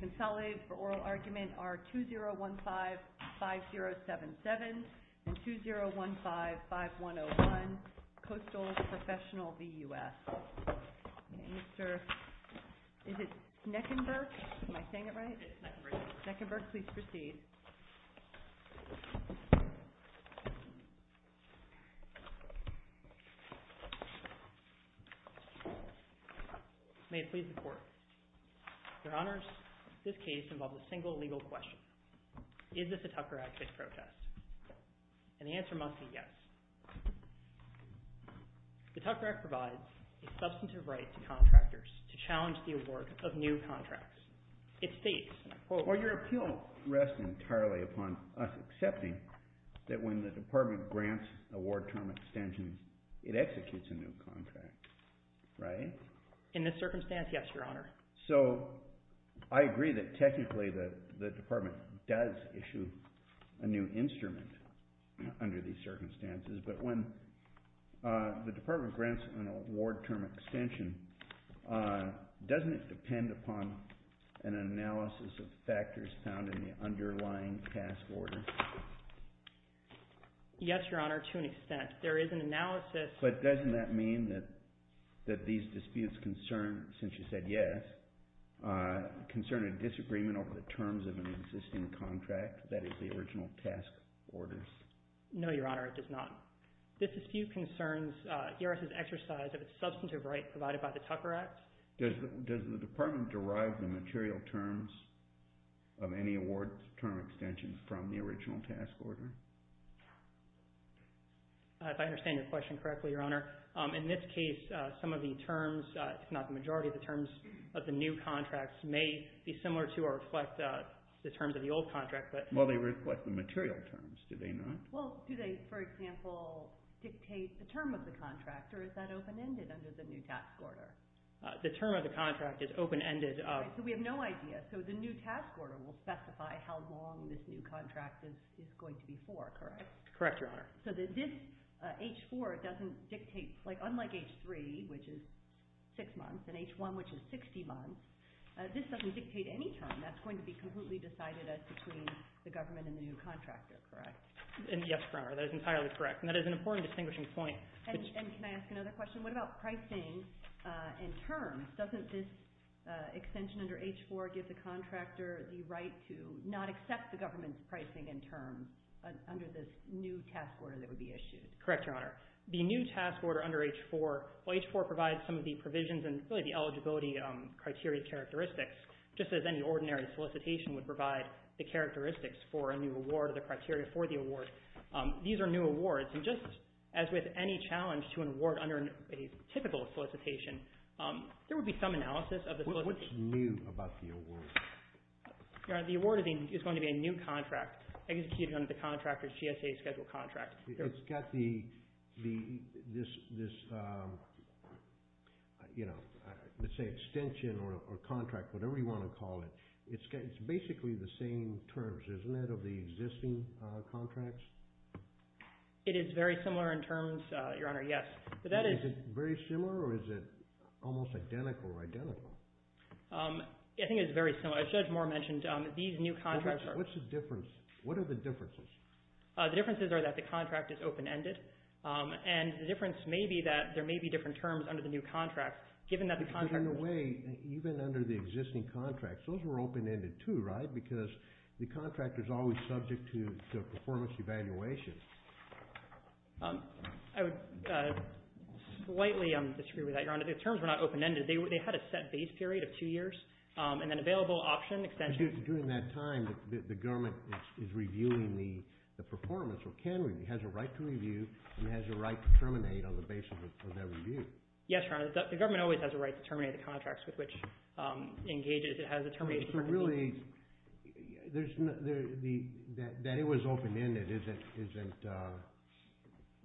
Consolidated for oral argument are 2015-5077 and 2015-5101, Coastal Professional v. U.S. Is it Sneckenberg? Am I saying it right? It is Sneckenberg. Sneckenberg, please proceed. May it please the Court. Your Honors, this case involves a single legal question. Is this a Tucker Act-based protest? And the answer must be yes. The Tucker Act provides a substantive right to contractors to challenge the award of new contracts. Well, your appeal rests entirely upon us accepting that when the Department grants an award term extension, it executes a new contract, right? In this circumstance, yes, Your Honor. So I agree that technically the Department does issue a new instrument under these circumstances, but when the Department grants an award term extension, doesn't it depend upon an analysis of factors found in the underlying task order? Yes, Your Honor, to an extent. There is an analysis. But doesn't that mean that these disputes concern, since you said yes, concern a disagreement over the terms of an existing contract, that is, the original task order? No, Your Honor, it does not. This dispute concerns GRS's exercise of its substantive right provided by the Tucker Act. Does the Department derive the material terms of any award term extension from the original task order? If I understand your question correctly, Your Honor, in this case, some of the terms, if not the majority of the terms, of the new contracts may be similar to or reflect the terms of the old contract. Well, they reflect the material terms, do they not? Well, do they, for example, dictate the term of the contract, or is that open-ended under the new task order? The term of the contract is open-ended. So we have no idea. So the new task order will specify how long this new contract is going to be for, correct? Correct, Your Honor. So this H-4 doesn't dictate, unlike H-3, which is 6 months, and H-1, which is 60 months, this doesn't dictate any term. That's going to be completely decided as between the government and the new contractor, correct? Yes, Your Honor, that is entirely correct, and that is an important distinguishing point. And can I ask another question? What about pricing and terms? Doesn't this extension under H-4 give the contractor the right to not accept the government's pricing and terms under this new task order that would be issued? Correct, Your Honor. The new task order under H-4, H-4 provides some of the provisions and really the eligibility criteria characteristics, just as any ordinary solicitation would provide the characteristics for a new award or the criteria for the award. These are new awards, and just as with any challenge to an award under a typical solicitation, there would be some analysis of the solicitation. What's new about the award? Your Honor, the award is going to be a new contract executed under the contractor's GSA Schedule contract. It's got this, let's say, extension or contract, whatever you want to call it. It's basically the same terms, isn't it, of the existing contracts? It is very similar in terms, Your Honor, yes. Is it very similar or is it almost identical or identical? I think it's very similar. As Judge Moore mentioned, these new contracts are – What's the difference? What are the differences? The differences are that the contract is open-ended, and the difference may be that there may be different terms under the new contract, given that the contract – But in a way, even under the existing contracts, those were open-ended too, right, because the contractor is always subject to performance evaluations. I would slightly disagree with that, Your Honor. The terms were not open-ended. They had a set base period of two years and then available option extension – But during that time, the government is reviewing the performance or can review, has a right to review, and has a right to terminate on the basis of that review. Yes, Your Honor. The government always has a right to terminate the contracts with which it engages. It has a termination – So really, that it was open-ended isn't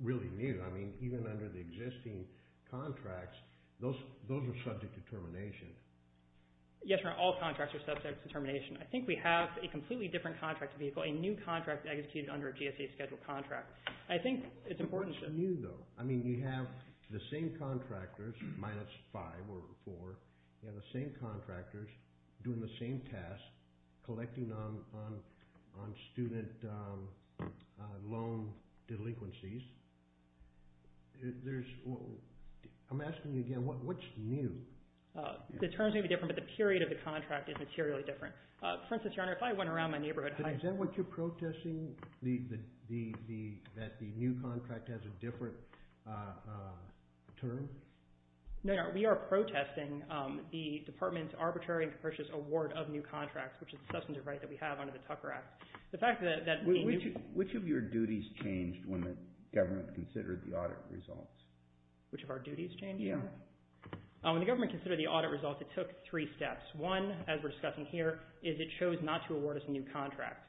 really new. I mean, even under the existing contracts, those were subject to termination. Yes, Your Honor. All contracts are subject to termination. I think we have a completely different contract vehicle, a new contract executed under a GSA Schedule contract. I think it's important to – What's new, though? I mean, you have the same contractors, minus five or four, you have the same contractors doing the same task, collecting on student loan delinquencies. I'm asking you again, what's new? The terms may be different, but the period of the contract is materially different. For instance, Your Honor, if I went around my neighborhood – Is that what you're protesting, that the new contract has a different term? No, Your Honor. We are protesting the department's arbitrary and capricious award of new contracts, which is a substantive right that we have under the Tucker Act. The fact that – Which of your duties changed when the government considered the audit results? Which of our duties changed? Yes. When the government considered the audit results, it took three steps. One, as we're discussing here, is it chose not to award us a new contract.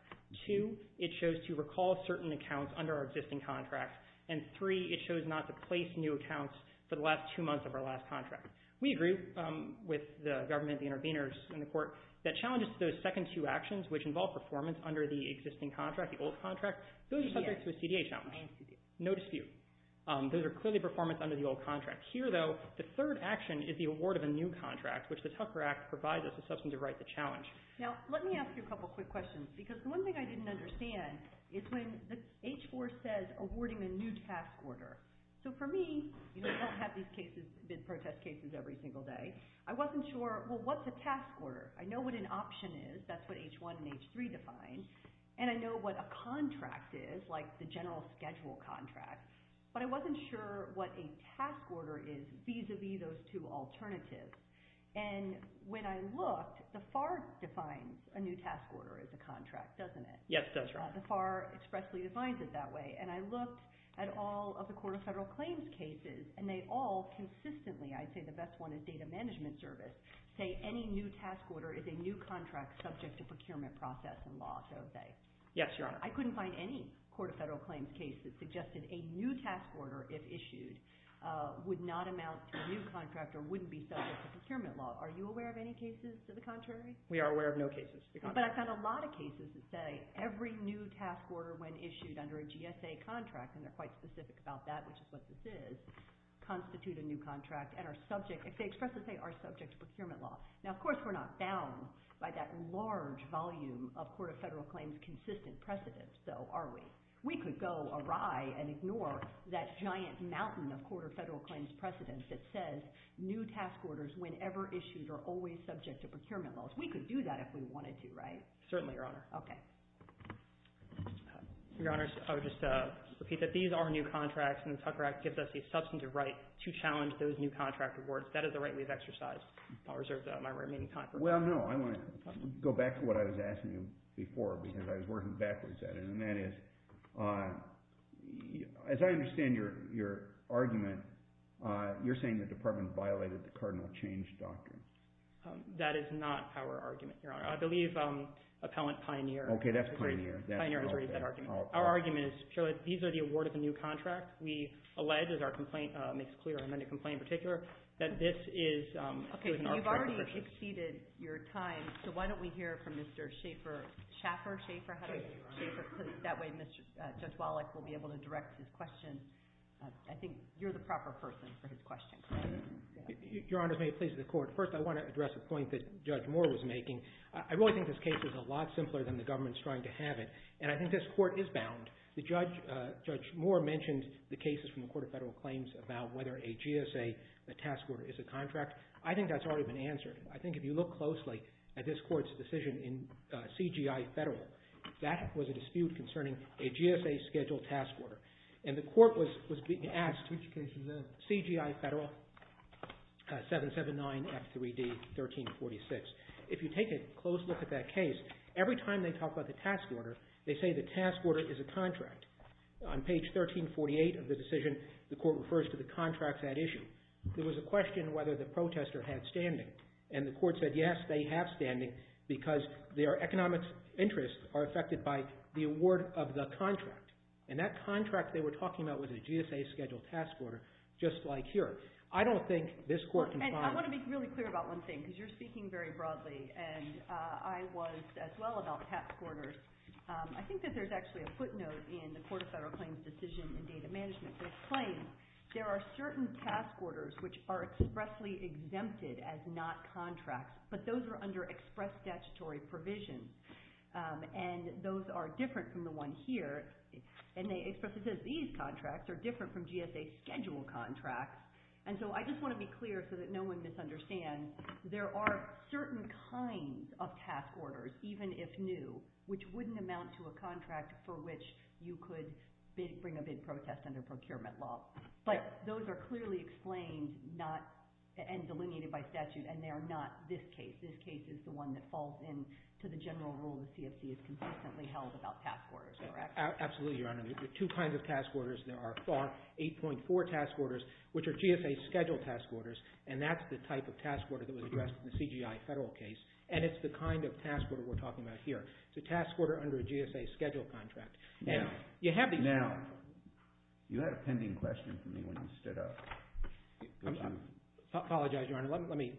Two, it chose to recall certain accounts under our existing contract. And three, it chose not to place new accounts for the last two months of our last contract. We agree with the government, the interveners, and the court that challenges to those second two actions, which involve performance under the existing contract, the old contract, those are subject to a CDA challenge. No dispute. Those are clearly performance under the old contract. Here, though, the third action is the award of a new contract, which the Tucker Act provides as a substantive right to challenge. Now, let me ask you a couple quick questions because the one thing I didn't understand is when the H-4 says awarding a new task order. So for me, you don't have these cases, bid protest cases, every single day. I wasn't sure, well, what's a task order? I know what an option is. That's what H-1 and H-3 define. And I know what a contract is, like the general schedule contract. But I wasn't sure what a task order is vis-a-vis those two alternatives. And when I looked, the FAR defines a new task order as a contract, doesn't it? Yes, that's right. The FAR expressly defines it that way. And I looked at all of the Court of Federal Claims cases, and they all consistently, I'd say the best one is Data Management Service, say any new task order is a new contract subject to procurement process and law, so to say. Yes, Your Honor. I couldn't find any Court of Federal Claims case that suggested a new task order, if issued, would not amount to a new contract or wouldn't be subject to procurement law. Are you aware of any cases to the contrary? We are aware of no cases to the contrary. But I've found a lot of cases that say every new task order, when issued under a GSA contract, and they're quite specific about that, which is what this is, constitute a new contract and are subject, if they express this way, are subject to procurement law. Now, of course, we're not bound by that large volume of Court of Federal Claims consistent precedence, though, are we? We could go awry and ignore that giant mountain of Court of Federal Claims precedence that says new task orders, whenever issued, are always subject to procurement laws. We could do that if we wanted to, right? Certainly, Your Honor. Okay. Your Honors, I would just repeat that these are new contracts, and the Tucker Act gives us the substantive right to challenge those new contract awards. That is the right we've exercised. I'll reserve my remaining time for questions. Well, no, I want to go back to what I was asking you before, because I was working backwards at it, and that is, as I understand your argument, you're saying the Department violated the Cardinal Change Doctrine. That is not our argument, Your Honor. I believe Appellant Pioneer has raised that argument. Okay, that's Pioneer. Pioneer has raised that argument. Our argument is, surely, these are the award of the new contract. We allege, as our complaint makes clear, and then the complaint in particular, that this is an arbitration. Okay, you've already exceeded your time, so why don't we hear from Mr. Schaffer. Schaffer, how do you say it? Schaffer. That way, Judge Wallach will be able to direct his question. I think you're the proper person for his question. Your Honors, may it please the Court. First, I want to address a point that Judge Moore was making. I really think this case is a lot simpler than the government's trying to have it, and I think this Court is bound. Judge Moore mentioned the cases from the Court of Federal Claims about whether a GSA task order is a contract. I think that's already been answered. I think if you look closely at this Court's decision in CGI Federal, that was a dispute concerning a GSA scheduled task order. And the Court was being asked— Which case was that? CGI Federal, 779 F3D 1346. If you take a close look at that case, every time they talk about the task order, they say the task order is a contract. On page 1348 of the decision, the Court refers to the contract that issue. There was a question whether the protester had standing, and the Court said yes, they have standing, because their economic interests are affected by the award of the contract. And that contract they were talking about was a GSA scheduled task order, just like here. I don't think this Court can find— And I want to be really clear about one thing, because you're speaking very broadly, and I was as well about task orders. I think that there's actually a footnote in the Court of Federal Claims' decision in data management that claims there are certain task orders which are expressly exempted as not contracts, but those are under express statutory provision, and those are different from the one here. And they expressly say these contracts are different from GSA scheduled contracts. And so I just want to be clear so that no one misunderstands. There are certain kinds of task orders, even if new, which wouldn't amount to a contract for which you could bring a bid protest under procurement law. But those are clearly explained and delineated by statute, and they are not this case. This case is the one that falls into the general rule that CFC has consistently held about task orders, correct? Absolutely, Your Honor. There are two kinds of task orders. There are FAR 8.4 task orders, which are GSA scheduled task orders, and that's the type of task order that was addressed in the CGI federal case, and it's the kind of task order we're talking about here. It's a task order under a GSA scheduled contract. Now, you had a pending question for me when you stood up. I apologize, Your Honor. Let me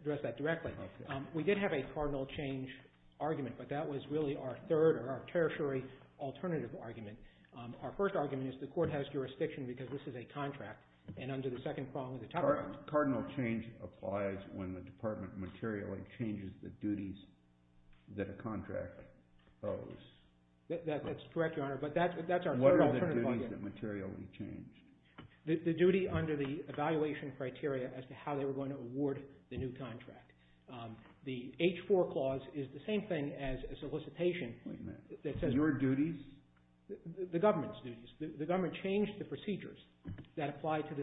address that directly. We did have a cardinal change argument, but that was really our third or our tertiary alternative argument. Our first argument is the court has jurisdiction because this is a contract, and under the second prong of the top argument. Cardinal change applies when the department materially changes the duties that a contract owes. That's correct, Your Honor, but that's our third alternative argument. What are the duties that materially change? The duty under the evaluation criteria as to how they were going to award the new contract. The H-4 clause is the same thing as a solicitation. Wait a minute. Your duties? The government's duties. The government changed the procedures that apply to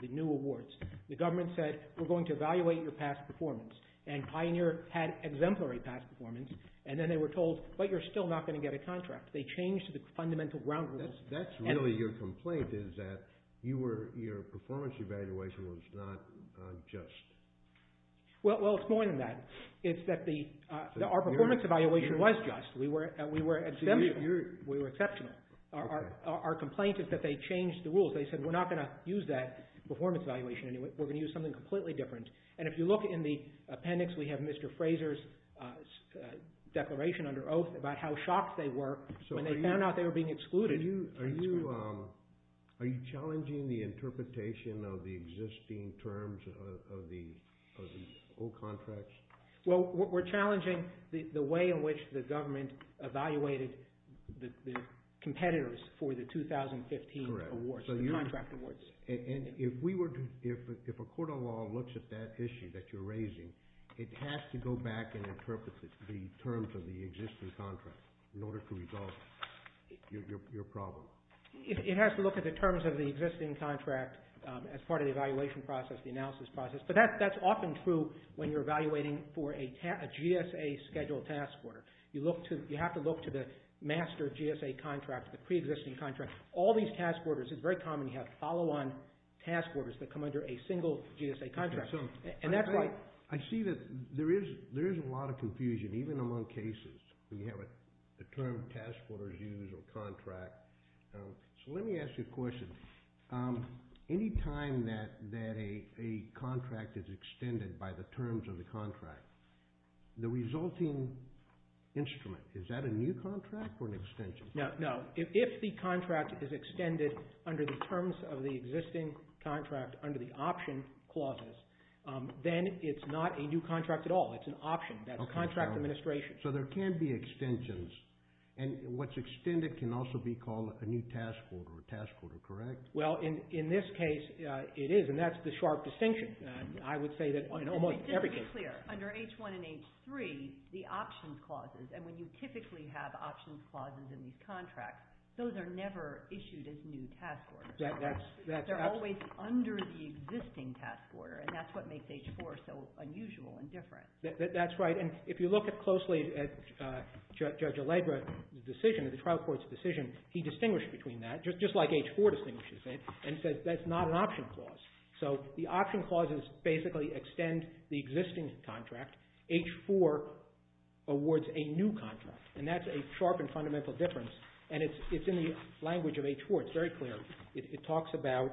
the new awards. The government said we're going to evaluate your past performance, and Pioneer had exemplary past performance, and then they were told, but you're still not going to get a contract. They changed the fundamental ground rules. That's really your complaint is that your performance evaluation was not just. Well, it's more than that. It's that our performance evaluation was just. We were exceptional. Our complaint is that they changed the rules. They said we're not going to use that performance evaluation anymore. We're going to use something completely different, and if you look in the appendix, we have Mr. Fraser's declaration under oath about how shocked they were when they found out they were being excluded. Are you challenging the interpretation of the existing terms of the old contracts? Well, we're challenging the way in which the government evaluated the competitors for the 2015 awards, the contract awards. And if a court of law looks at that issue that you're raising, it has to go back and interpret the terms of the existing contracts in order to resolve your problem. It has to look at the terms of the existing contract as part of the evaluation process, the analysis process, but that's often true when you're evaluating for a GSA scheduled task order. You have to look to the master GSA contract, the pre-existing contract. All these task orders, it's very common to have follow-on task orders that come under a single GSA contract, and that's why. I see that there is a lot of confusion, even among cases. We have a term task orders use or contract. So let me ask you a question. Any time that a contract is extended by the terms of the contract, the resulting instrument, is that a new contract or an extension? No. If the contract is extended under the terms of the existing contract under the option clauses, then it's not a new contract at all. It's an option. That's contract administration. So there can be extensions. And what's extended can also be called a new task order, correct? Well, in this case, it is, and that's the sharp distinction. I would say that in almost every case. Just to be clear, under H1 and H3, the options clauses, and when you typically have options clauses in these contracts, those are never issued as new task orders. They're always under the existing task order, and that's what makes H4 so unusual and different. That's right. And if you look closely at Judge Allegra's decision, the trial court's decision, he distinguished between that, just like H4 distinguishes it, and says that's not an option clause. So the option clauses basically extend the existing contract. H4 awards a new contract, and that's a sharp and fundamental difference, and it's in the language of H4. It's very clear. It talks about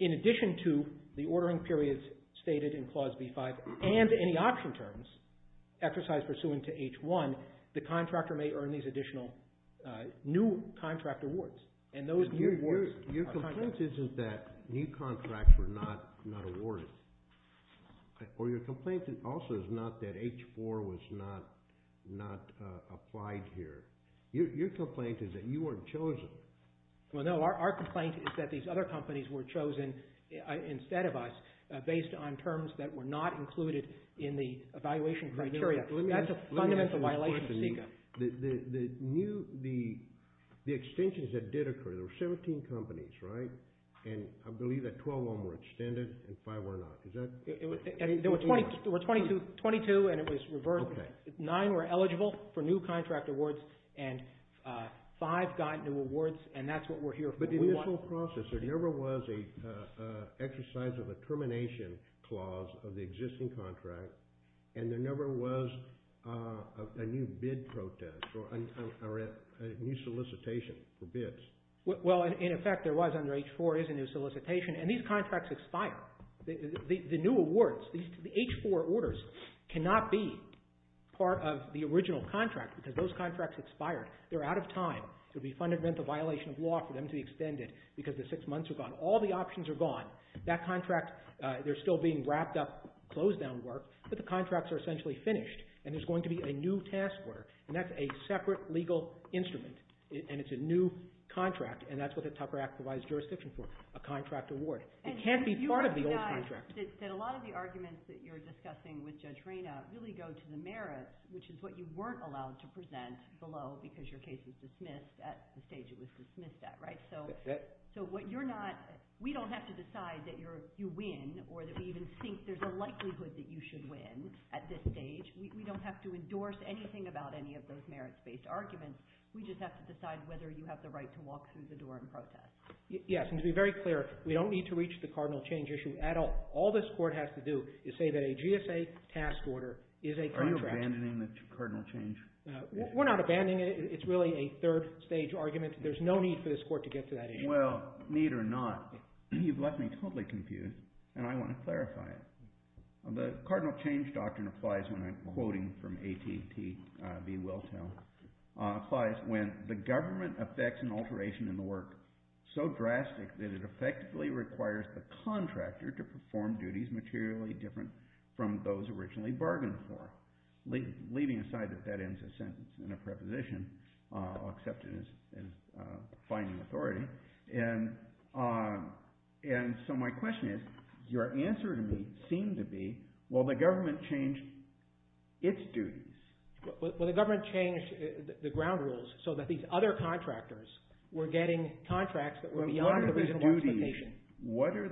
in addition to the ordering periods stated in Clause B5 and any option terms exercised pursuant to H1, the contractor may earn these additional new contract awards, and those new awards are contracted. Your complaint isn't that new contracts were not awarded, or your complaint also is not that H4 was not applied here. Your complaint is that you weren't chosen. Well, no. Our complaint is that these other companies were chosen instead of us based on terms that were not included in the evaluation criteria. That's a fundamental violation of CICA. The extensions that did occur, there were 17 companies, right? And I believe that 12 of them were extended and five were not. There were 22, and it was reversed. Nine were eligible for new contract awards, and five got new awards, and that's what we're here for. But in this whole process, there never was an exercise of a termination clause of the existing contract, and there never was a new bid protest or a new solicitation for bids. Well, in effect, there was under H4, there is a new solicitation, and these contracts expire. The new awards, the H4 orders cannot be part of the original contract because those contracts expired. They're out of time. It would be fundamentally a violation of law for them to be extended because the six months are gone. All the options are gone. That contract, they're still being wrapped up, closed down work, but the contracts are essentially finished, and there's going to be a new task order, and that's a separate legal instrument, and it's a new contract, and that's what the Tupper Act provides jurisdiction for, a contract award. It can't be part of the old contract. A lot of the arguments that you're discussing with Judge Reyna really go to the merits, which is what you weren't allowed to present below because your case was dismissed at the stage it was dismissed at, right? So what you're not – we don't have to decide that you win or that we even think there's a likelihood that you should win at this stage. We don't have to endorse anything about any of those merits-based arguments. We just have to decide whether you have the right to walk through the door and protest. Yes, and to be very clear, we don't need to reach the cardinal change issue at all. All this court has to do is say that a GSA task order is a contract. Are you abandoning the cardinal change? We're not abandoning it. It's really a third-stage argument. There's no need for this court to get to that issue. Well, need or not, you've left me totally confused, and I want to clarify it. The cardinal change doctrine applies when I'm quoting from AT&T v. Wiltel, applies when the government affects an alteration in the work so drastic that it effectively requires the contractor to perform duties materially different from those originally bargained for, leaving aside that that ends a sentence in a preposition, accepted as finding authority. So my question is, your answer to me seemed to be, will the government change its duties? Will the government change the ground rules so that these other contractors were getting contracts that were beyond the original justification? What are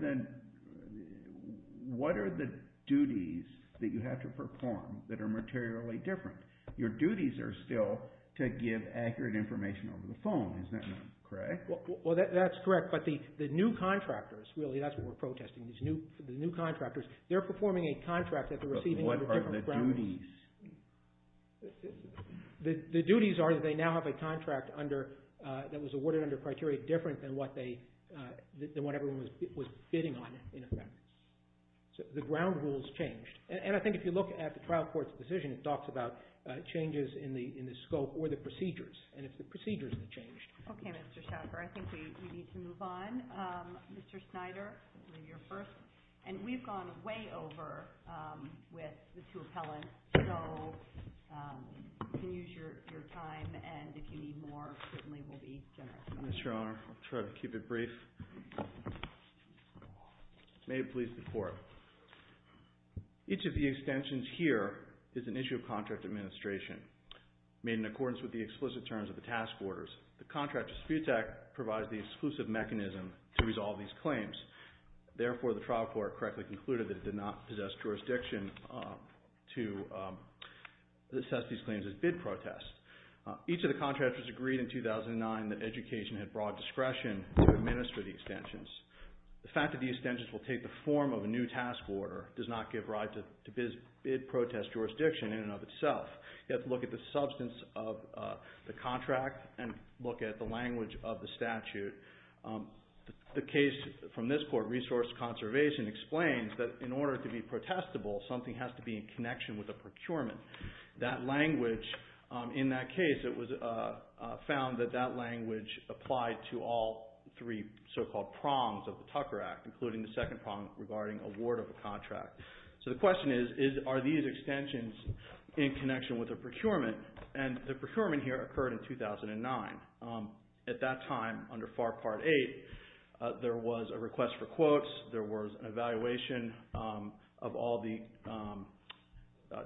the duties that you have to perform that are materially different? Your duties are still to give accurate information over the phone. Is that correct? Well, that's correct, but the new contractors, really, that's what we're protesting, the new contractors, they're performing a contract that they're receiving under different ground rules. But what are the duties? The duties are that they now have a contract that was awarded under criteria different than what everyone was bidding on, in effect. So the ground rules changed. And I think if you look at the trial court's decision, it talks about changes in the scope or the procedures, and it's the procedures that changed. Okay, Mr. Schaffer, I think we need to move on. Mr. Snyder, you're first. And we've gone way over with the two appellants, so you can use your time, and if you need more, certainly we'll be generous. Yes, Your Honor. I'll try to keep it brief. May it please the Court. Each of the extensions here is an issue of contract administration made in accordance with the explicit terms of the task orders. The Contractor's Subject Act provides the exclusive mechanism to resolve these claims. Therefore, the trial court correctly concluded that it did not possess jurisdiction to assess these claims as bid protests. Each of the contractors agreed in 2009 that education had broad discretion to administer the extensions. The fact that the extensions will take the form of a new task order does not give rise to bid protest jurisdiction in and of itself. You have to look at the substance of the contract and look at the language of the statute. The case from this court, Resource Conservation, explains that in order to be protestable, something has to be in connection with a procurement. That language, in that case, it was found that that language applied to all three so-called prongs of the Tucker Act, including the second prong regarding award of a contract. So the question is, are these extensions in connection with a procurement? And the procurement here occurred in 2009. At that time, under FAR Part 8, there was a request for quotes, there was an evaluation of all the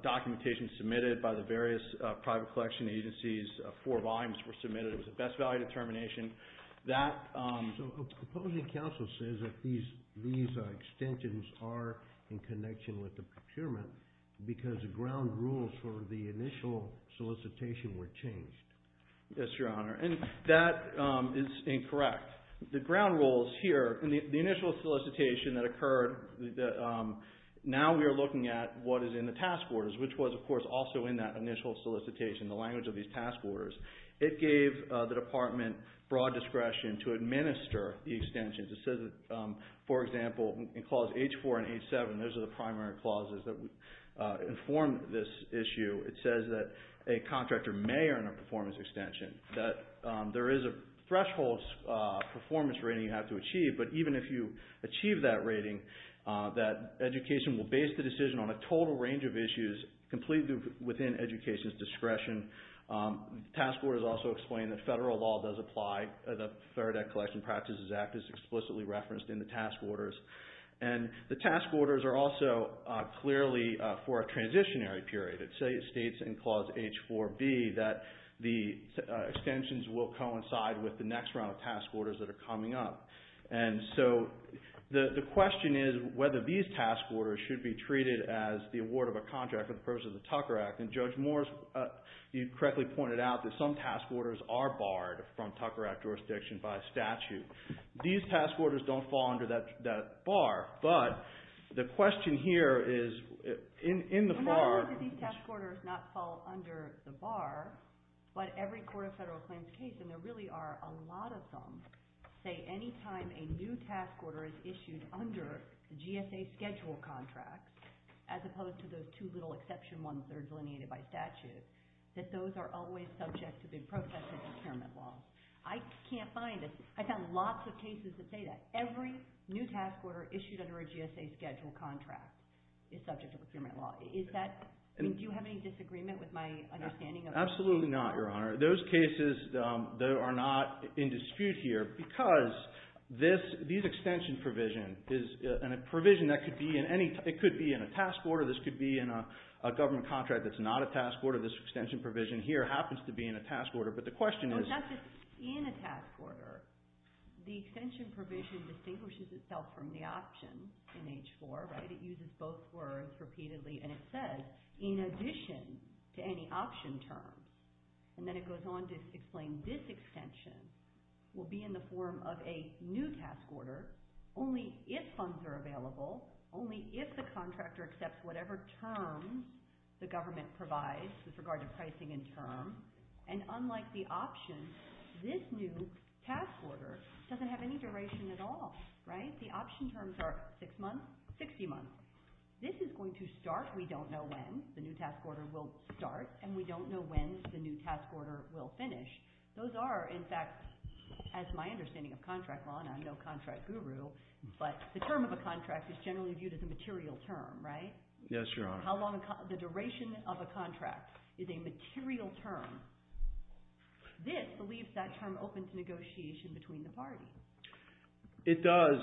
documentation submitted by the various private collection agencies. Four volumes were submitted. It was a best value determination. So a proposing counsel says that these extensions are in connection with the procurement because the ground rules for the initial solicitation were changed. Yes, Your Honor, and that is incorrect. The ground rules here in the initial solicitation that occurred, now we are looking at what is in the task orders, which was, of course, also in that initial solicitation, the language of these task orders. It gave the department broad discretion to administer the extensions. It says that, for example, in Clause H4 and H7, those are the primary clauses that inform this issue, it says that a contractor may earn a performance extension, that there is a threshold performance rating you have to achieve, but even if you achieve that rating, that education will base the decision on a total range of issues completely within education's discretion. Task orders also explain that federal law does apply. The Faraday Collection Practices Act is explicitly referenced in the task orders. And the task orders are also clearly for a transitionary period. It states in Clause H4B that the extensions will coincide with the next round of task orders that are coming up. And so the question is whether these task orders should be treated as the award of a contract for the purposes of the Tucker Act. And Judge Morris, you correctly pointed out that some task orders are barred from Tucker Act jurisdiction by statute. These task orders don't fall under that bar, but the question here is in the FAR. Not only do these task orders not fall under the bar, but every Court of Federal Claims case, and there really are a lot of them, say any time a new task order is issued under GSA schedule contracts, as opposed to those two little exception ones that are delineated by statute, that those are always subject to be processed as impairment laws. I can't find it. I found lots of cases that say that. Every new task order issued under a GSA schedule contract is subject to impairment law. Do you have any disagreement with my understanding of that? Absolutely not, Your Honor. Those cases are not in dispute here because these extension provisions, and a provision that could be in a task order, this could be in a government contract that's not a task order, this extension provision here happens to be in a task order, but the question is… No, it's not just in a task order. The extension provision distinguishes itself from the option in H-4. It uses both words repeatedly, and it says, in addition to any option term, and then it goes on to explain this extension will be in the form of a new task order only if funds are available, only if the contractor accepts whatever term the government provides with regard to pricing and term, and unlike the option, this new task order doesn't have any duration at all. The option terms are 6 months, 60 months. This is going to start, we don't know when, the new task order will start, and we don't know when the new task order will finish. Those are, in fact, as my understanding of contract law, and I'm no contract guru, but the term of a contract is generally viewed as a material term, right? Yes, Your Honor. How long the duration of a contract is a material term. This believes that term opens negotiation between the parties. It does.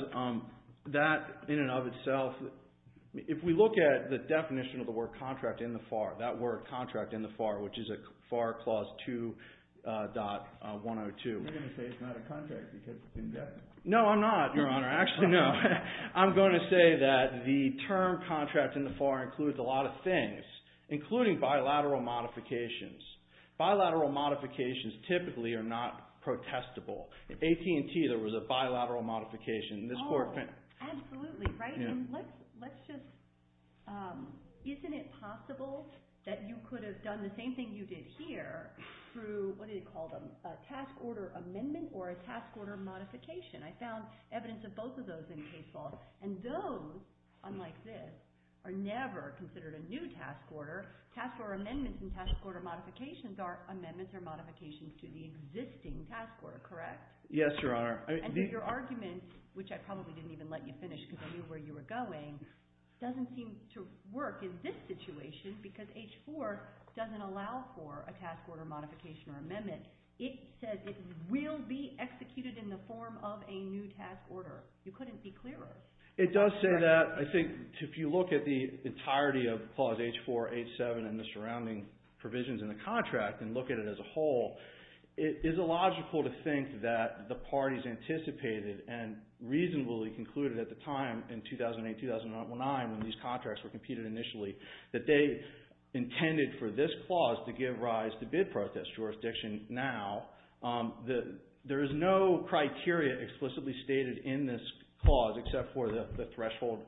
That, in and of itself, if we look at the definition of the word contract in the FAR, that word contract in the FAR, which is FAR Clause 2.102. You're going to say it's not a contract because it's indexed. No, I'm not, Your Honor. Actually, no. I'm going to say that the term contract in the FAR includes a lot of things, including bilateral modifications. Bilateral modifications typically are not protestable. AT&T, there was a bilateral modification. Oh, absolutely, right? Let's just, isn't it possible that you could have done the same thing you did here through, what do you call them, a task order amendment or a task order modification? I found evidence of both of those in case law. And those, unlike this, are never considered a new task order. Task order amendments and task order modifications are amendments or modifications to the existing task order, correct? Yes, Your Honor. And so your argument, which I probably didn't even let you finish because I knew where you were going, doesn't seem to work in this situation because H-4 doesn't allow for a task order modification or amendment. It says it will be executed in the form of a new task order. You couldn't be clearer. It does say that. I think if you look at the entirety of Clause H-4, H-7, and the surrounding provisions in the contract and look at it as a whole, it is illogical to think that the parties anticipated and reasonably concluded at the time in 2008-2009 when these contracts were competed initially that they intended for this clause to give rise to bid protest jurisdiction. Now, there is no criteria explicitly stated in this clause except for the threshold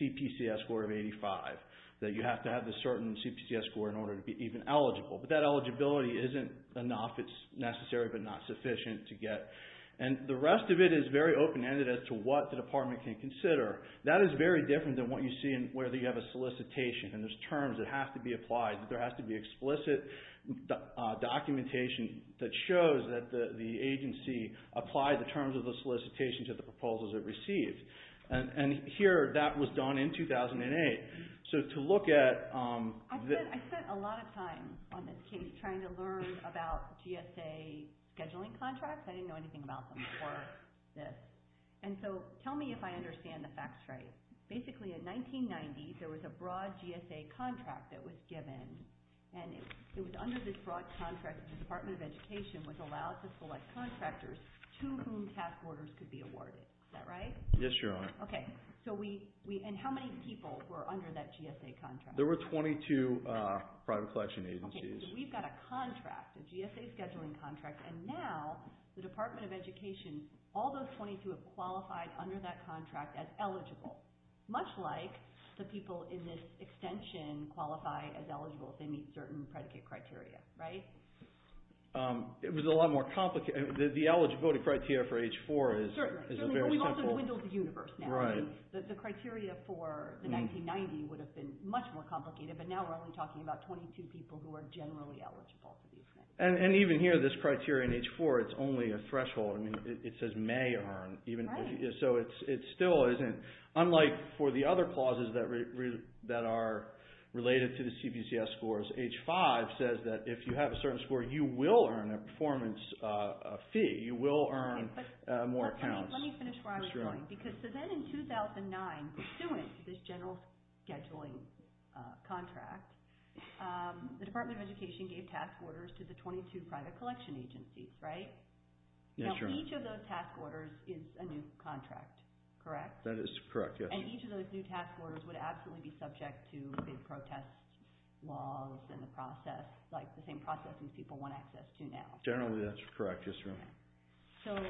CPCS score of 85, that you have to have a certain CPCS score in order to be even eligible. But that eligibility isn't enough. It's necessary but not sufficient to get. And the rest of it is very open-ended as to what the Department can consider. That is very different than what you see in whether you have a solicitation and there's terms that have to be applied, that there has to be explicit documentation that shows that the agency applied the terms of the solicitation to the proposals it received. And here, that was done in 2008. So to look at... I spent a lot of time on this case trying to learn about GSA scheduling contracts. I didn't know anything about them before this. And so tell me if I understand the facts right. Basically, in 1990, there was a broad GSA contract that was given. And it was under this broad contract that the Department of Education was allowed to select contractors to whom task orders could be awarded. Is that right? Yes, Your Honor. Okay. And how many people were under that GSA contract? There were 22 private collection agencies. Okay. So we've got a contract, a GSA scheduling contract. And now, the Department of Education, all those 22 have qualified under that contract as eligible, much like the people in this extension qualify as eligible if they meet certain predicate criteria, right? It was a lot more complicated. The eligibility criteria for age 4 is a very simple... Certainly, but we've also dwindled the universe now. Right. The criteria for the 1990 would have been much more complicated, but now we're only talking about 22 people who are generally eligible. And even here, this criteria in age 4, it's only a threshold. I mean, it says may earn. So it still isn't. Unlike for the other clauses that are related to the CPCS scores, age 5 says that if you have a certain score, you will earn a performance fee. You will earn more accounts. Let me finish where I was going. So then in 2009, pursuant to this general scheduling contract, the Department of Education gave task orders to the 22 private collection agencies, right? Now, each of those task orders is a new contract, correct? That is correct, yes. And each of those new task orders would absolutely be subject to big protest laws and the process, like the same process these people want access to now. Generally, that's correct, yes, ma'am.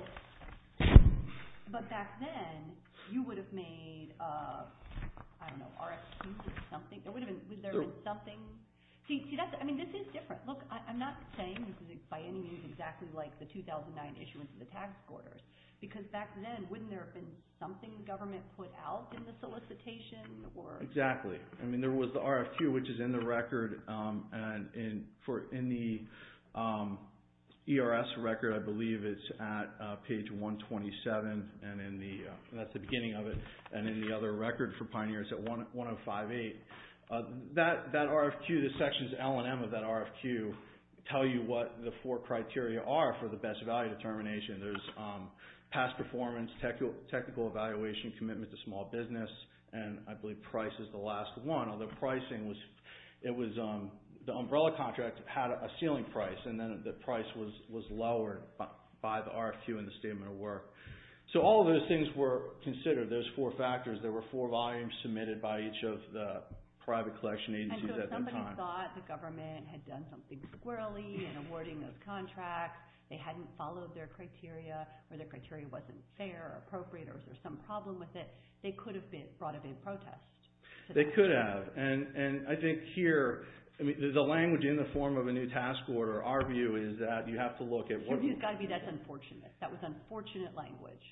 But back then, you would have made, I don't know, RFQs or something. Would there have been something? I mean, this is different. Look, I'm not saying this is, by any means, exactly like the 2009 issuance of the task orders, because back then, wouldn't there have been something the government put out in the solicitation? Exactly. I mean, there was the RFQ, which is in the record. And in the ERS record, I believe it's at page 127. And that's the beginning of it. And in the other record for Pioneer, it's at 1058. That RFQ, the sections L and M of that RFQ, tell you what the four criteria are for the best value determination. There's past performance, technical evaluation, commitment to small business, and I believe price is the last one. Although pricing was, it was, the umbrella contract had a ceiling price, and then the price was lowered by the RFQ and the statement of work. So all of those things were considered, those four factors. There were four volumes submitted by each of the private collection agencies at that time. And so if somebody thought the government had done something squirrelly in awarding those contracts, they hadn't followed their criteria, or their criteria wasn't fair or appropriate, or was there some problem with it, they could have brought a big protest. They could have. And I think here, I mean, the language in the form of a new task order, our view is that you have to look at what— Your view has got to be that's unfortunate. That was unfortunate language.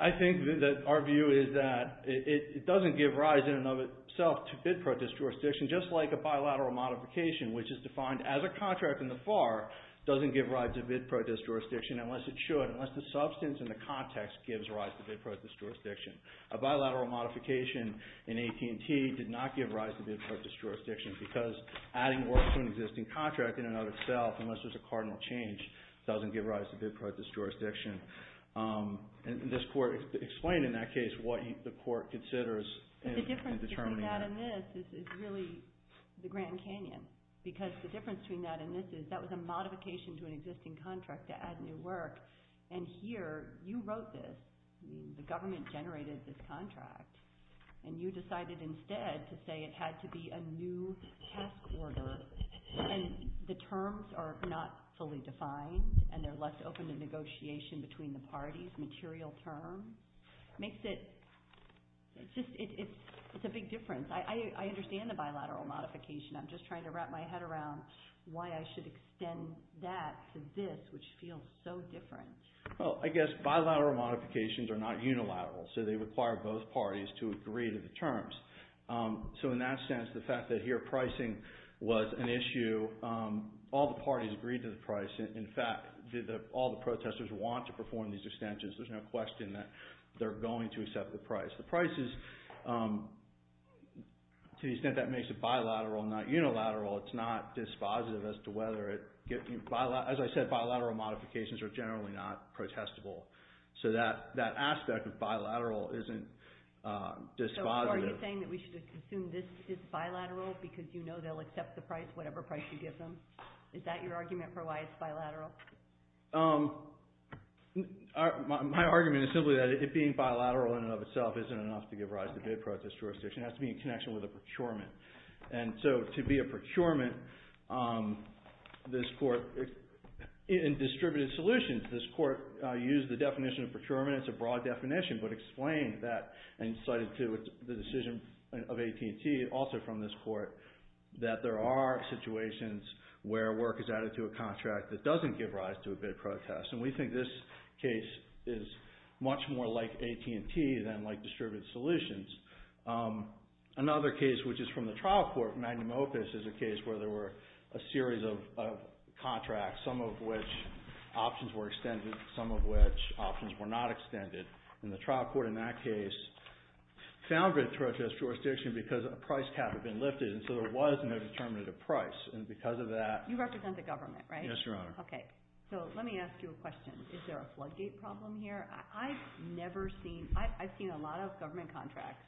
I think that our view is that it doesn't give rise in and of itself to bid protest jurisdiction, just like a bilateral modification, which is defined as a contract in the FAR, doesn't give rise to bid protest jurisdiction unless it should, unless the substance and the context gives rise to bid protest jurisdiction. A bilateral modification in AT&T did not give rise to bid protest jurisdiction because adding work to an existing contract in and of itself, unless there's a cardinal change, doesn't give rise to bid protest jurisdiction. And this court explained in that case what the court considers in determining that. The difference between that and this is really the Grand Canyon because the difference between that and this is that was a modification to an existing contract to add new work. And here, you wrote this. The government generated this contract. And you decided instead to say it had to be a new task order. And the terms are not fully defined, and they're less open to negotiation between the parties, material terms. It makes it—it's a big difference. I understand the bilateral modification. I'm just trying to wrap my head around why I should extend that to this, which feels so different. Well, I guess bilateral modifications are not unilateral, so they require both parties to agree to the terms. So in that sense, the fact that here pricing was an issue, all the parties agreed to the price. In fact, all the protesters want to perform these extensions. There's no question that they're going to accept the price. The price is—to the extent that makes it bilateral, not unilateral, it's not dispositive as to whether it— as I said, bilateral modifications are generally not protestable. So that aspect of bilateral isn't dispositive. So are you saying that we should assume this is bilateral because you know they'll accept the price, whatever price you give them? Is that your argument for why it's bilateral? My argument is simply that it being bilateral in and of itself isn't enough to give rise to bid protest jurisdiction. It has to be in connection with a procurement. And so to be a procurement, this court—in distributed solutions, this court used the definition of procurement as a broad definition, but explained that and cited to the decision of AT&T, also from this court, that there are situations where work is added to a contract that doesn't give rise to a bid protest. And we think this case is much more like AT&T than like distributed solutions. Another case, which is from the trial court, Magnum Opus, is a case where there were a series of contracts, some of which options were extended, some of which options were not extended. And the trial court in that case found bid protest jurisdiction because a price cap had been lifted, and so there was no determinative price. And because of that— You represent the government, right? Yes, Your Honor. Okay. So let me ask you a question. Is there a floodgate problem here? I've never seen—I've seen a lot of government contracts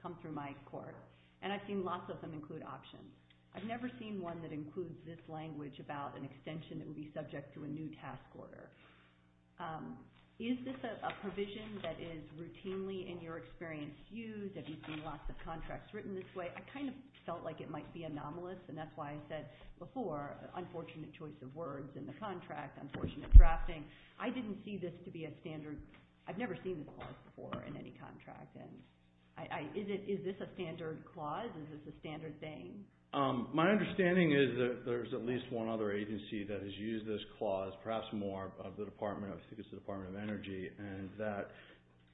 come through my court, and I've seen lots of them include options. I've never seen one that includes this language about an extension that would be subject to a new task order. Is this a provision that is routinely, in your experience, used? Have you seen lots of contracts written this way? I kind of felt like it might be anomalous, and that's why I said before, unfortunate choice of words in the contract, unfortunate drafting. I didn't see this to be a standard. I've never seen this clause before in any contract. Is this a standard clause? Is this a standard thing? My understanding is that there's at least one other agency that has used this clause, perhaps more of the Department of—I think it's the Department of Energy, and that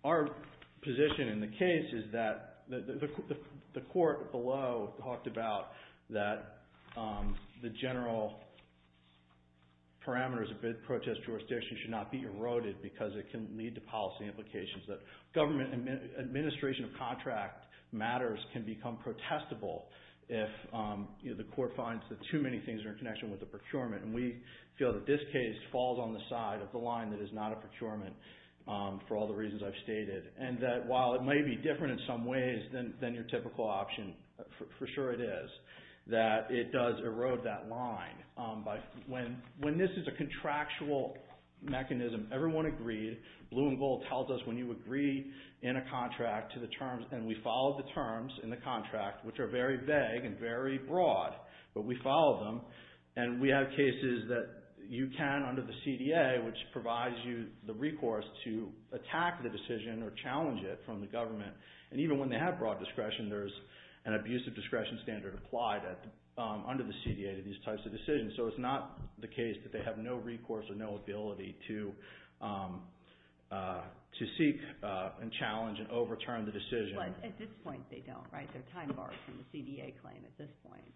our position in the case is that the court below talked about that the general parameters of bid protest jurisdiction should not be eroded because it can lead to policy implications. That administration of contract matters can become protestable if the court finds that too many things are in connection with the procurement. We feel that this case falls on the side of the line that is not a procurement for all the reasons I've stated, and that while it may be different in some ways than your typical option, for sure it is, that it does erode that line. When this is a contractual mechanism, everyone agreed. Blue and Gold tells us when you agree in a contract to the terms, and we followed the terms in the contract, which are very vague and very broad, but we followed them, and we have cases that you can, under the CDA, which provides you the recourse to attack the decision or challenge it from the government, and even when they have broad discretion, there's an abusive discretion standard applied under the CDA to these types of decisions. So it's not the case that they have no recourse or no ability to seek and challenge and overturn the decision. At this point, they don't, right? They're time-barred from the CDA claim at this point.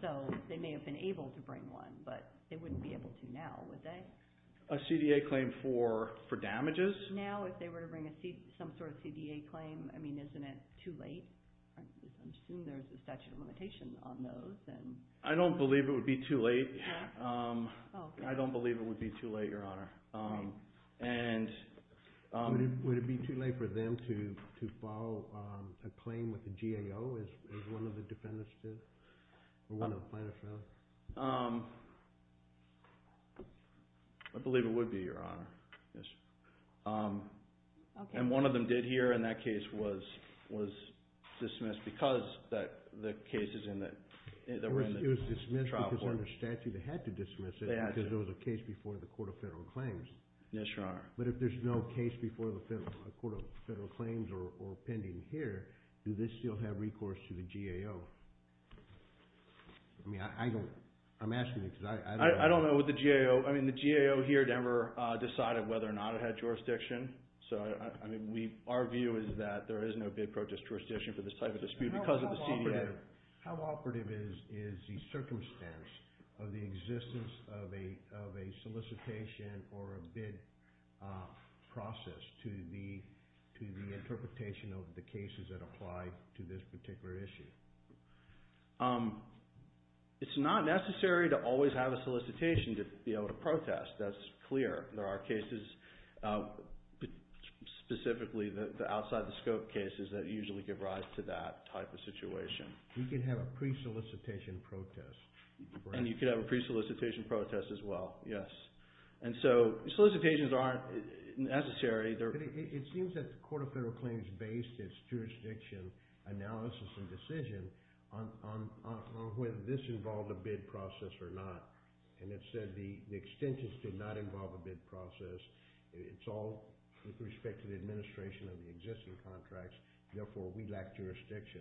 So they may have been able to bring one, but they wouldn't be able to now, would they? A CDA claim for damages? Now, if they were to bring some sort of CDA claim, I mean, isn't it too late? I assume there's a statute of limitations on those. I don't believe it would be too late. I don't believe it would be too late, Your Honor. Would it be too late for them to follow a claim with the GAO, as one of the defendants did, or one of the plaintiffs did? I believe it would be, Your Honor. And one of them did here, and that case was dismissed because the case is in the trial court. It was dismissed because under statute they had to dismiss it because it was a case before the Court of Federal Claims. Yes, Your Honor. But if there's no case before the Court of Federal Claims or pending here, do they still have recourse to the GAO? I mean, I'm asking you because I don't know. I don't know what the GAO, I mean, the GAO here, Denver, decided whether or not it had jurisdiction. So, I mean, our view is that there is no bid protest jurisdiction for this type of dispute because of the CDA. How operative is the circumstance of the existence of a solicitation or a bid process to the interpretation of the cases that apply to this particular issue? It's not necessary to always have a solicitation to be able to protest. That's clear. There are cases, specifically the outside-the-scope cases, that usually give rise to that type of situation. You can have a pre-solicitation protest. And you can have a pre-solicitation protest as well, yes. And so solicitations aren't necessary. It seems that the Court of Federal Claims based its jurisdiction analysis and decision on whether this involved a bid process or not, and it said the extensions did not involve a bid process. It's all with respect to the administration of the existing contracts. Therefore, we lack jurisdiction.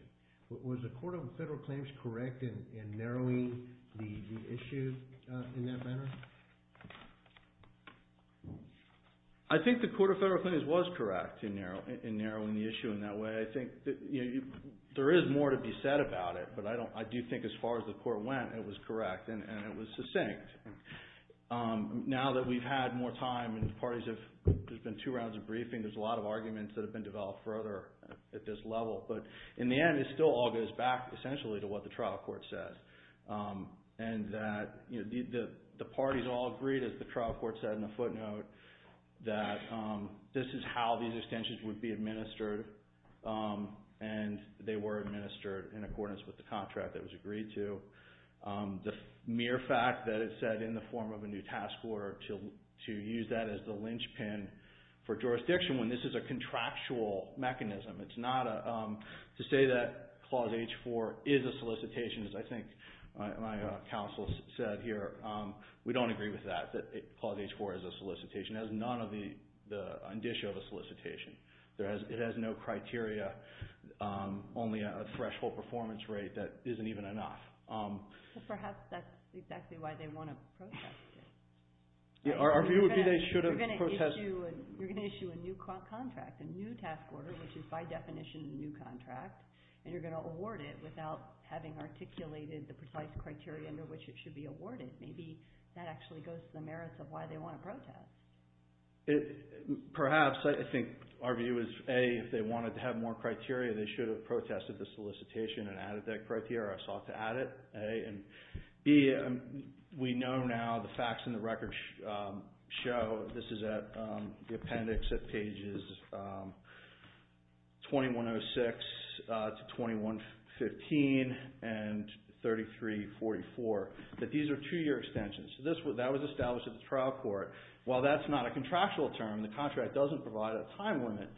Was the Court of Federal Claims correct in narrowing the issue in that manner? I think the Court of Federal Claims was correct in narrowing the issue in that way. I think there is more to be said about it, but I do think as far as the Court went, it was correct and it was succinct. Now that we've had more time and there's been two rounds of briefing, there's a lot of arguments that have been developed further at this level. But in the end, it still all goes back, essentially, to what the trial court says. The parties all agreed, as the trial court said in the footnote, that this is how these extensions would be administered, and they were administered in accordance with the contract that was agreed to. The mere fact that it said in the form of a new task order to use that as the linchpin for jurisdiction when this is a contractual mechanism. It's not to say that Clause H4 is a solicitation, as I think my counsel said here. We don't agree with that, that Clause H4 is a solicitation. It has none of the indicia of a solicitation. It has no criteria, only a threshold performance rate that isn't even enough. Perhaps that's exactly why they want to protest it. Our view would be they should have protested. You're going to issue a new contract, a new task order, which is by definition a new contract, and you're going to award it without having articulated the precise criteria under which it should be awarded. Maybe that actually goes to the merits of why they want to protest. Perhaps. I think our view is, A, if they wanted to have more criteria, they should have protested the solicitation and added that criteria or sought to add it, A. And B, we know now the facts in the record show, this is at the appendix at pages 2106 to 2115 and 3344, that these are two-year extensions. That was established at the trial court. While that's not a contractual term, the contract doesn't provide a time limit.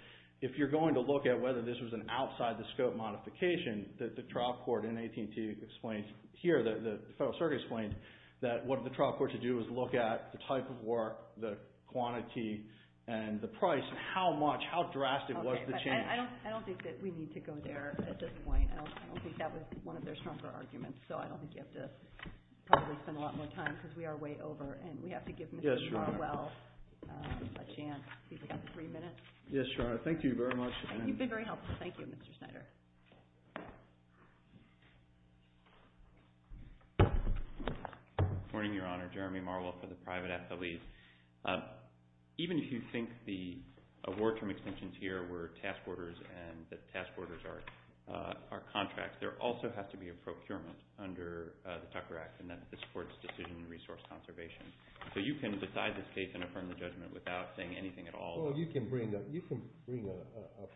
If you're going to look at whether this was an outside-the-scope modification, the trial court in 18-T explains here, the Federal Circuit explains, that what the trial court should do is look at the type of work, the quantity, and the price, and how much, how drastic was the change. I don't think that we need to go there at this point. I don't think that was one of their stronger arguments, so I don't think you have to probably spend a lot more time because we are way over and we have to give Mr. Farwell a chance. He's got three minutes. Yes, Your Honor. Thank you very much. You've been very helpful. Thank you, Mr. Snyder. Good morning, Your Honor. Jeremy Marwell for the private affilies. Even if you think the award-term extensions here were task orders and that task orders are contracts, there also has to be a procurement under the Tucker Act and that this supports decision and resource conservation. So you can decide this case and affirm the judgment without saying anything at all? Well, you can bring a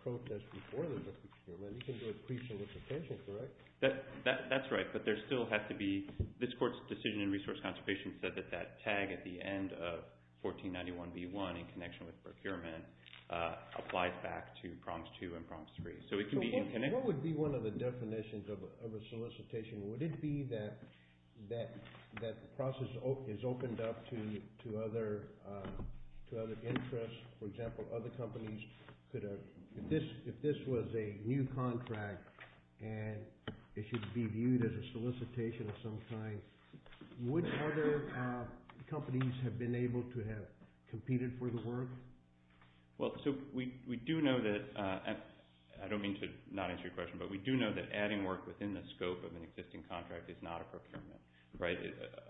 protest before the procurement. You can do a pre-solicitation, correct? That's right, but there still has to be this court's decision and resource conservation said that that tag at the end of 1491B1 in connection with procurement applies back to prompts 2 and prompts 3. So it can be in connection. What would be one of the definitions of a solicitation? Would it be that the process is opened up to other interests? For example, if this was a new contract and it should be viewed as a solicitation of some kind, would other companies have been able to have competed for the work? Well, so we do know that, and I don't mean to not answer your question, but we do know that adding work within the scope of an existing contract is not a procurement, right?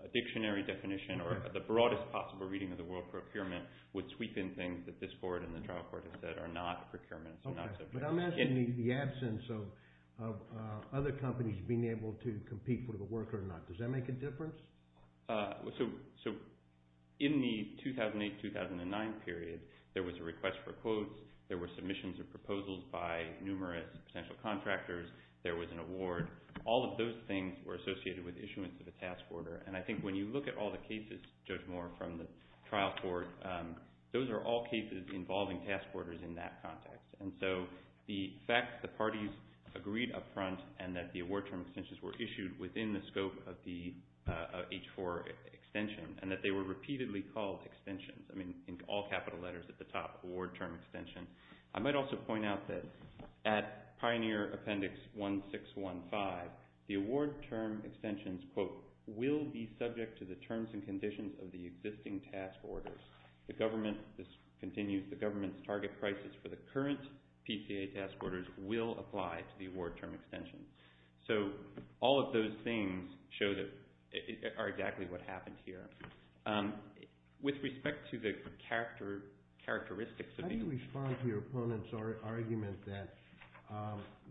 A dictionary definition or the broadest possible reading of the word procurement would sweep in things that this court and the trial court have said are not procurements. Okay, but I'm asking you the absence of other companies being able to compete for the work or not. Does that make a difference? So in the 2008-2009 period, there was a request for quotes. There were submissions of proposals by numerous potential contractors. There was an award. All of those things were associated with issuance of a task order, and I think when you look at all the cases, Judge Moore, from the trial court, those are all cases involving task orders in that context. And so the fact that the parties agreed up front and that the award term extensions were issued within the scope of the H-4 extension and that they were repeatedly called extensions, I mean in all capital letters at the top, award term extension. I might also point out that at Pioneer Appendix 1615, the award term extensions, quote, will be subject to the terms and conditions of the existing task orders. The government, this continues, the government's target prices for the current PCA task orders will apply to the award term extensions. So all of those things are exactly what happened here. With respect to the characteristics of these. I respond to your opponent's argument that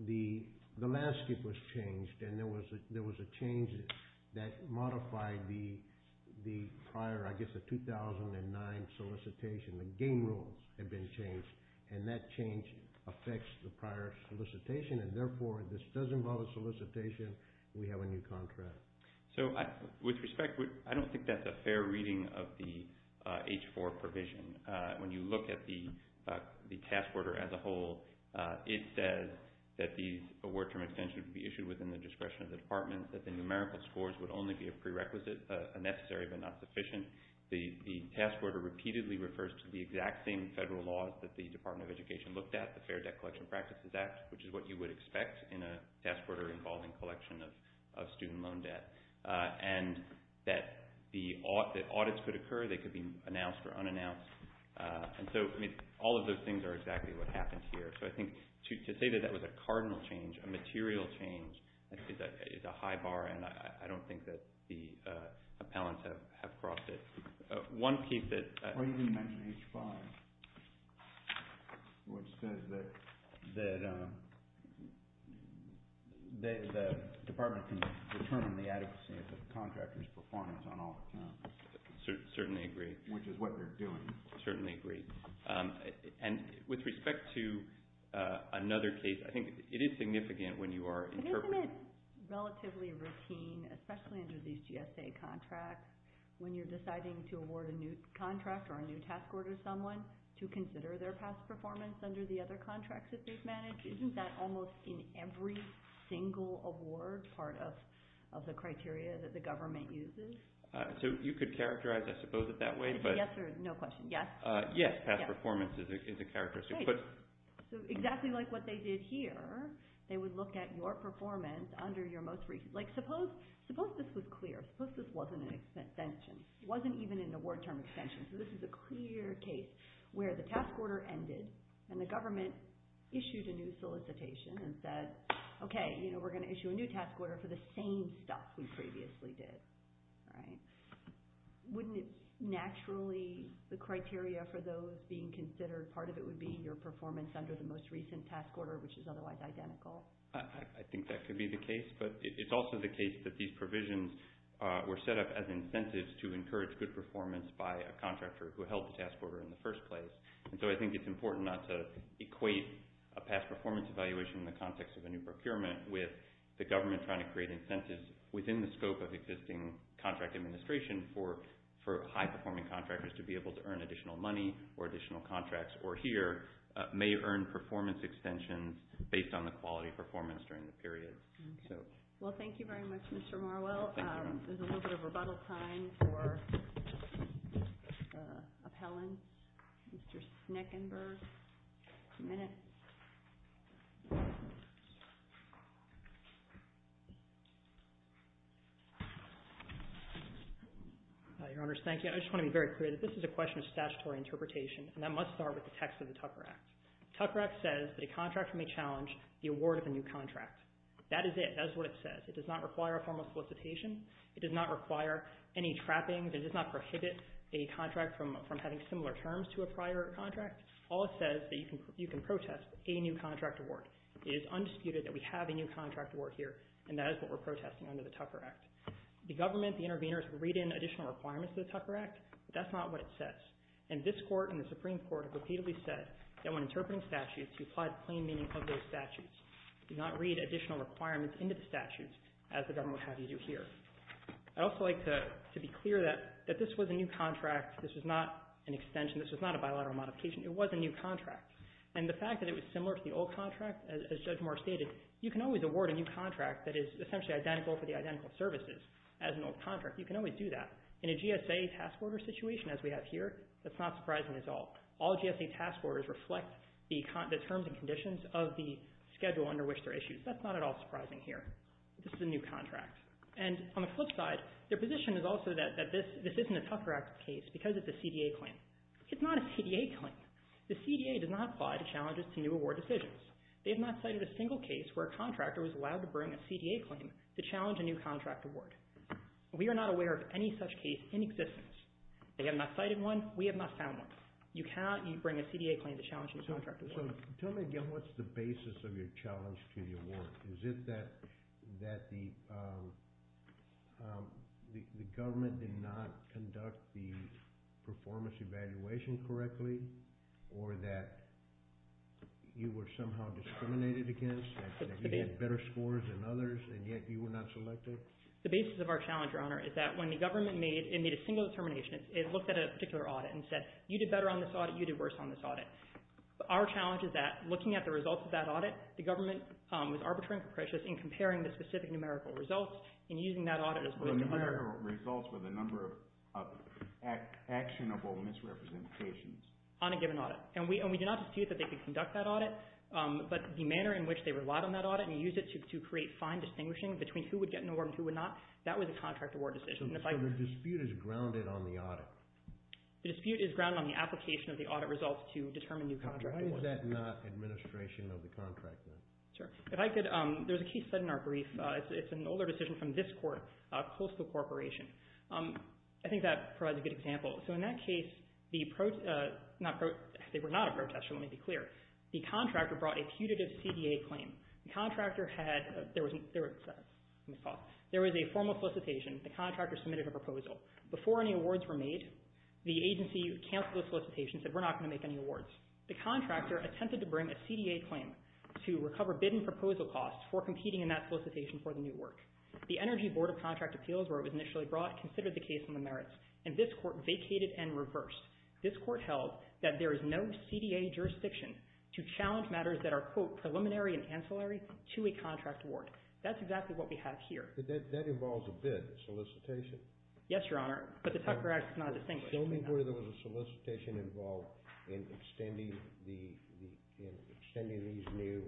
the landscape was changed and there was a change that modified the prior, I guess, the 2009 solicitation. The game rules had been changed, and that change affects the prior solicitation, and therefore this does involve a solicitation. We have a new contract. So with respect, I don't think that's a fair reading of the H-4 provision. When you look at the task order as a whole, it says that the award term extension would be issued within the discretion of the department, that the numerical scores would only be a prerequisite, a necessary but not sufficient. The task order repeatedly refers to the exact same federal laws that the Department of Education looked at, the Fair Debt Collection Practices Act, which is what you would expect in a task order involving collection of student loan debt, and that audits could occur. They could be announced or unannounced. And so, I mean, all of those things are exactly what happened here. So I think to say that that was a cardinal change, a material change, is a high bar, and I don't think that the appellants have crossed it. One piece that— Why didn't you mention H-5, which says that the department can determine the adequacy of the contractor's performance on all accounts? Certainly agree. Which is what they're doing. Certainly agree. And with respect to another case, I think it is significant when you are interpreting— But isn't it relatively routine, especially under these GSA contracts, when you're deciding to award a new contract or a new task order to someone to consider their past performance under the other contracts that they've managed? Isn't that almost in every single award part of the criteria that the government uses? So you could characterize, I suppose, it that way, but— Is it yes or no question? Yes? Yes, past performance is a characteristic. Great. So exactly like what they did here, they would look at your performance under your most recent— Like, suppose this was clear. Suppose this wasn't an extension. It wasn't even an award term extension. So this is a clear case where the task order ended and the government issued a new solicitation and said, Okay, we're going to issue a new task order for the same stuff we previously did. Wouldn't it naturally, the criteria for those being considered, part of it would be your performance under the most recent task order, which is otherwise identical? I think that could be the case, but it's also the case that these provisions were set up as incentives to encourage good performance by a contractor who held the task order in the first place. And so I think it's important not to equate a past performance evaluation in the context of a new procurement with the government trying to create incentives within the scope of existing contract administration for high-performing contractors to be able to earn additional money or additional contracts or here may earn performance extensions based on the quality performance during the period. Well, thank you very much, Mr. Marwell. There's a little bit of rebuttal time for appellants. Mr. Sneckenberg, a minute. Your Honors, thank you. I just want to be very clear that this is a question of statutory interpretation and that must start with the text of the Tucker Act. Tucker Act says that a contractor may challenge the award of a new contract. That is it. That is what it says. It does not require a formal solicitation. It does not require any trappings. It does not prohibit a contract from having similar terms to a prior contract. All it says is that you can protest a new contract award. It is undisputed that we have a new contract award here, and that is what we're protesting under the Tucker Act. The government, the interveners, read in additional requirements to the Tucker Act, but that's not what it says. And this Court and the Supreme Court have repeatedly said that when interpreting statutes, you apply the plain meaning of those statutes. Do not read additional requirements into the statutes as the government has you do here. I'd also like to be clear that this was a new contract. This was not an extension. This was not a bilateral modification. It was a new contract. And the fact that it was similar to the old contract, as Judge Moore stated, you can always award a new contract that is essentially identical for the identical services as an old contract. You can always do that. In a GSA task order situation as we have here, that's not surprising at all. All GSA task orders reflect the terms and conditions of the schedule under which they're issued. That's not at all surprising here. This is a new contract. And on the flip side, their position is also that this isn't a Tucker Act case because it's a CDA claim. It's not a CDA claim. The CDA does not apply to challenges to new award decisions. They have not cited a single case where a contractor was allowed to bring a CDA claim to challenge a new contract award. We are not aware of any such case in existence. They have not cited one. We have not found one. You cannot bring a CDA claim to challenge a new contract award. So tell me again, what's the basis of your challenge to the award? Is it that the government did not conduct the performance evaluation correctly or that you were somehow discriminated against, that you had better scores than others and yet you were not selected? The basis of our challenge, Your Honor, is that when the government made a single determination, it looked at a particular audit and said, you did better on this audit, you did worse on this audit. Our challenge is that looking at the results of that audit, the government was arbitrary and capricious in comparing the specific numerical results and using that audit as a way to compare. The numerical results were the number of actionable misrepresentations. On a given audit. And we did not dispute that they could conduct that audit, but the manner in which they relied on that audit and used it to create fine distinguishing between who would get an award and who would not, that was a contract award decision. So the dispute is grounded on the audit? The dispute is grounded on the application of the audit results to determine new contract awards. Why is that not administration of the contract then? There's a case set in our brief. It's an older decision from this court, Coastal Corporation. I think that provides a good example. So in that case, they were not a protest. Let me be clear. The contractor brought a putative CDA claim. The contractor had a formal solicitation. The contractor submitted a proposal. Before any awards were made, the agency canceled the solicitation, said we're not going to make any awards. The contractor attempted to bring a CDA claim to recover bid and proposal costs for competing in that solicitation for the new work. The Energy Board of Contract Appeals, where it was initially brought, considered the case on the merits. And this court vacated and reversed. This court held that there is no CDA jurisdiction to challenge matters that are, quote, preliminary and ancillary to a contract award. That's exactly what we have here. But that involves a bid solicitation. Yes, Your Honor. But the Tucker Act does not distinguish. Tell me where there was a solicitation involved in extending these new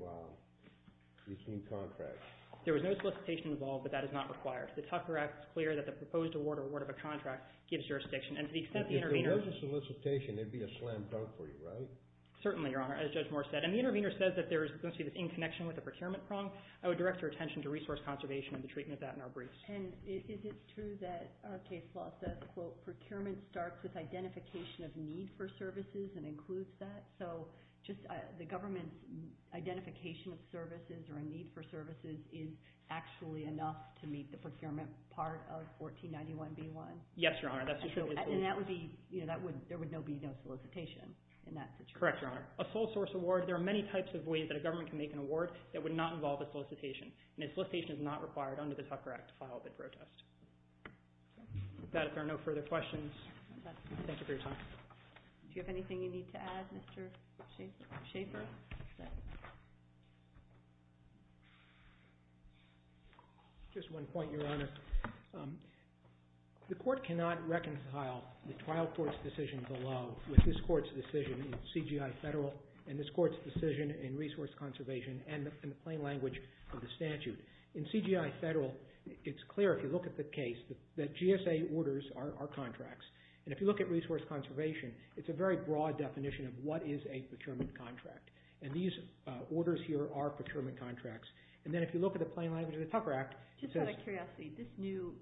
contracts. There was no solicitation involved, but that is not required. The Tucker Act is clear that the proposed award or award of a contract gives jurisdiction. And to the extent the intervener – If there was a solicitation, there would be a slam dunk for you, right? Certainly, Your Honor, as Judge Moore said. And the intervener says that there is going to be this in connection with a procurement prong. I would direct your attention to resource conservation and the treatment of that in our briefs. And is it true that our case law says, quote, procurement starts with identification of need for services and includes that? So just the government's identification of services or a need for services is actually enough to meet the procurement part of 1491B1? Yes, Your Honor. And that would be – there would be no solicitation in that situation? Correct, Your Honor. A sole source award – there are many types of ways that a government can make an award that would not involve a solicitation. And a solicitation is not required under the Tucker Act to file a bid protest. With that, if there are no further questions, thank you for your time. Do you have anything you need to add, Mr. Schaffer? Just one point, Your Honor. The court cannot reconcile the trial court's decision below with this court's decision in CGI Federal and this court's decision in Resource Conservation and the plain language of the statute. In CGI Federal, it's clear if you look at the case that GSA orders are contracts. And if you look at Resource Conservation, it's a very broad definition of what is a procurement contract. And these orders here are procurement contracts. And then if you look at the plain language of the Tucker Act, it says – Just out of curiosity, these new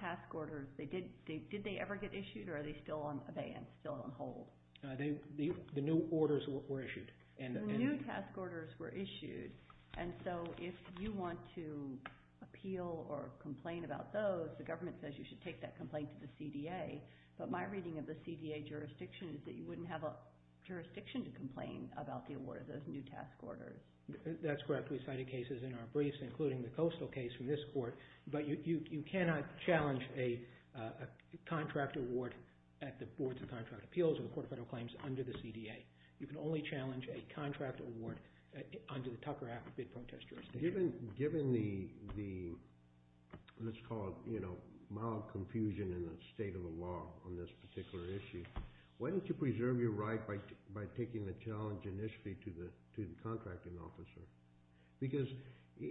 task orders, did they ever get issued or are they still on abeyance, still on hold? The new orders were issued. The new task orders were issued. And so if you want to appeal or complain about those, the government says you should take that complaint to the CDA. But my reading of the CDA jurisdiction is that you wouldn't have a jurisdiction to complain about the award of those new task orders. That's correct. We cited cases in our briefs, including the coastal case from this court. But you cannot challenge a contract award at the Boards of Contract Appeals or the Court of Federal Claims under the CDA. You can only challenge a contract award under the Tucker Act bid protest jurisdiction. Given the, let's call it mild confusion in the state of the law on this particular issue, why don't you preserve your right by taking the challenge initially to the contracting officer? Because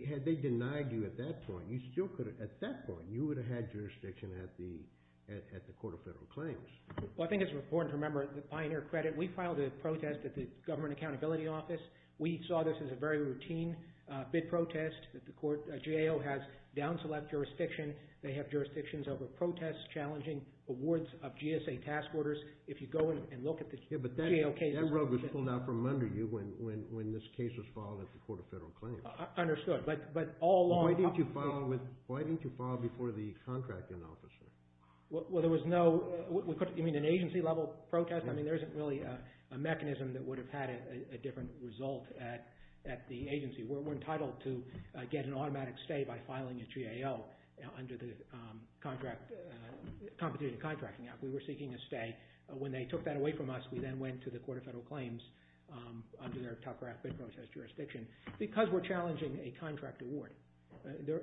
had they denied you at that point, you still could have – at that point, you would have had jurisdiction at the Court of Federal Claims. Well, I think it's important to remember the Pioneer Credit, we filed a protest at the Government Accountability Office. We saw this as a very routine bid protest. The GAO has down-select jurisdiction. They have jurisdictions over protests, challenging awards of GSA task orders. If you go and look at the GAO cases – Yeah, but that rub was pulled out from under you when this case was filed at the Court of Federal Claims. Understood. But all along – Why didn't you file before the contracting officer? Well, there was no – you mean an agency-level protest? I mean, there isn't really a mechanism that would have had a different result at the agency. We're entitled to get an automatic stay by filing a GAO under the Competition Contracting Act. We were seeking a stay. When they took that away from us, we then went to the Court of Federal Claims under their tough draft bid protest jurisdiction because we're challenging a contract award.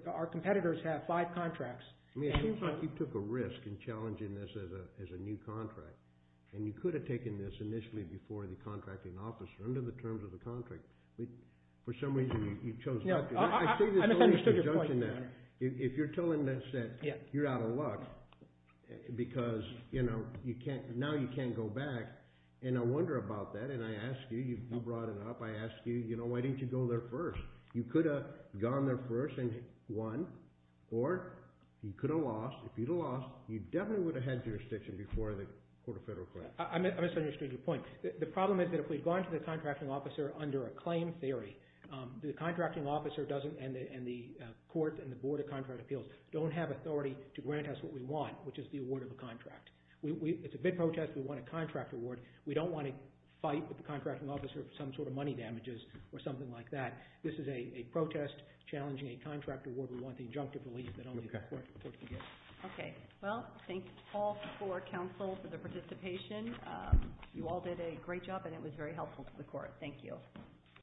Our competitors have five contracts. I mean, it seems like you took a risk in challenging this as a new contract, and you could have taken this initially before the contracting officer under the terms of the contract. But for some reason, you chose not to. I say this only as a conjunction. If you're telling us that you're out of luck because, you know, now you can't go back, and I wonder about that, and I ask you – you brought it up – I ask you, you know, why didn't you go there first? You could have gone there first and won, or you could have lost. If you'd have lost, you definitely would have had jurisdiction before the Court of Federal Claims. I misunderstood your point. The problem is that if we'd gone to the contracting officer under a claim theory, the contracting officer and the court and the Board of Contract Appeals don't have authority to grant us what we want, which is the award of a contract. It's a bid protest. We want a contract award. We don't want to fight with the contracting officer for some sort of money damages or something like that. This is a protest challenging a contract award. We want the injunctive relief that only the court can get. Okay. Well, thank you, Paul, for counsel, for the participation. You all did a great job, and it was very helpful to the court. Thank you.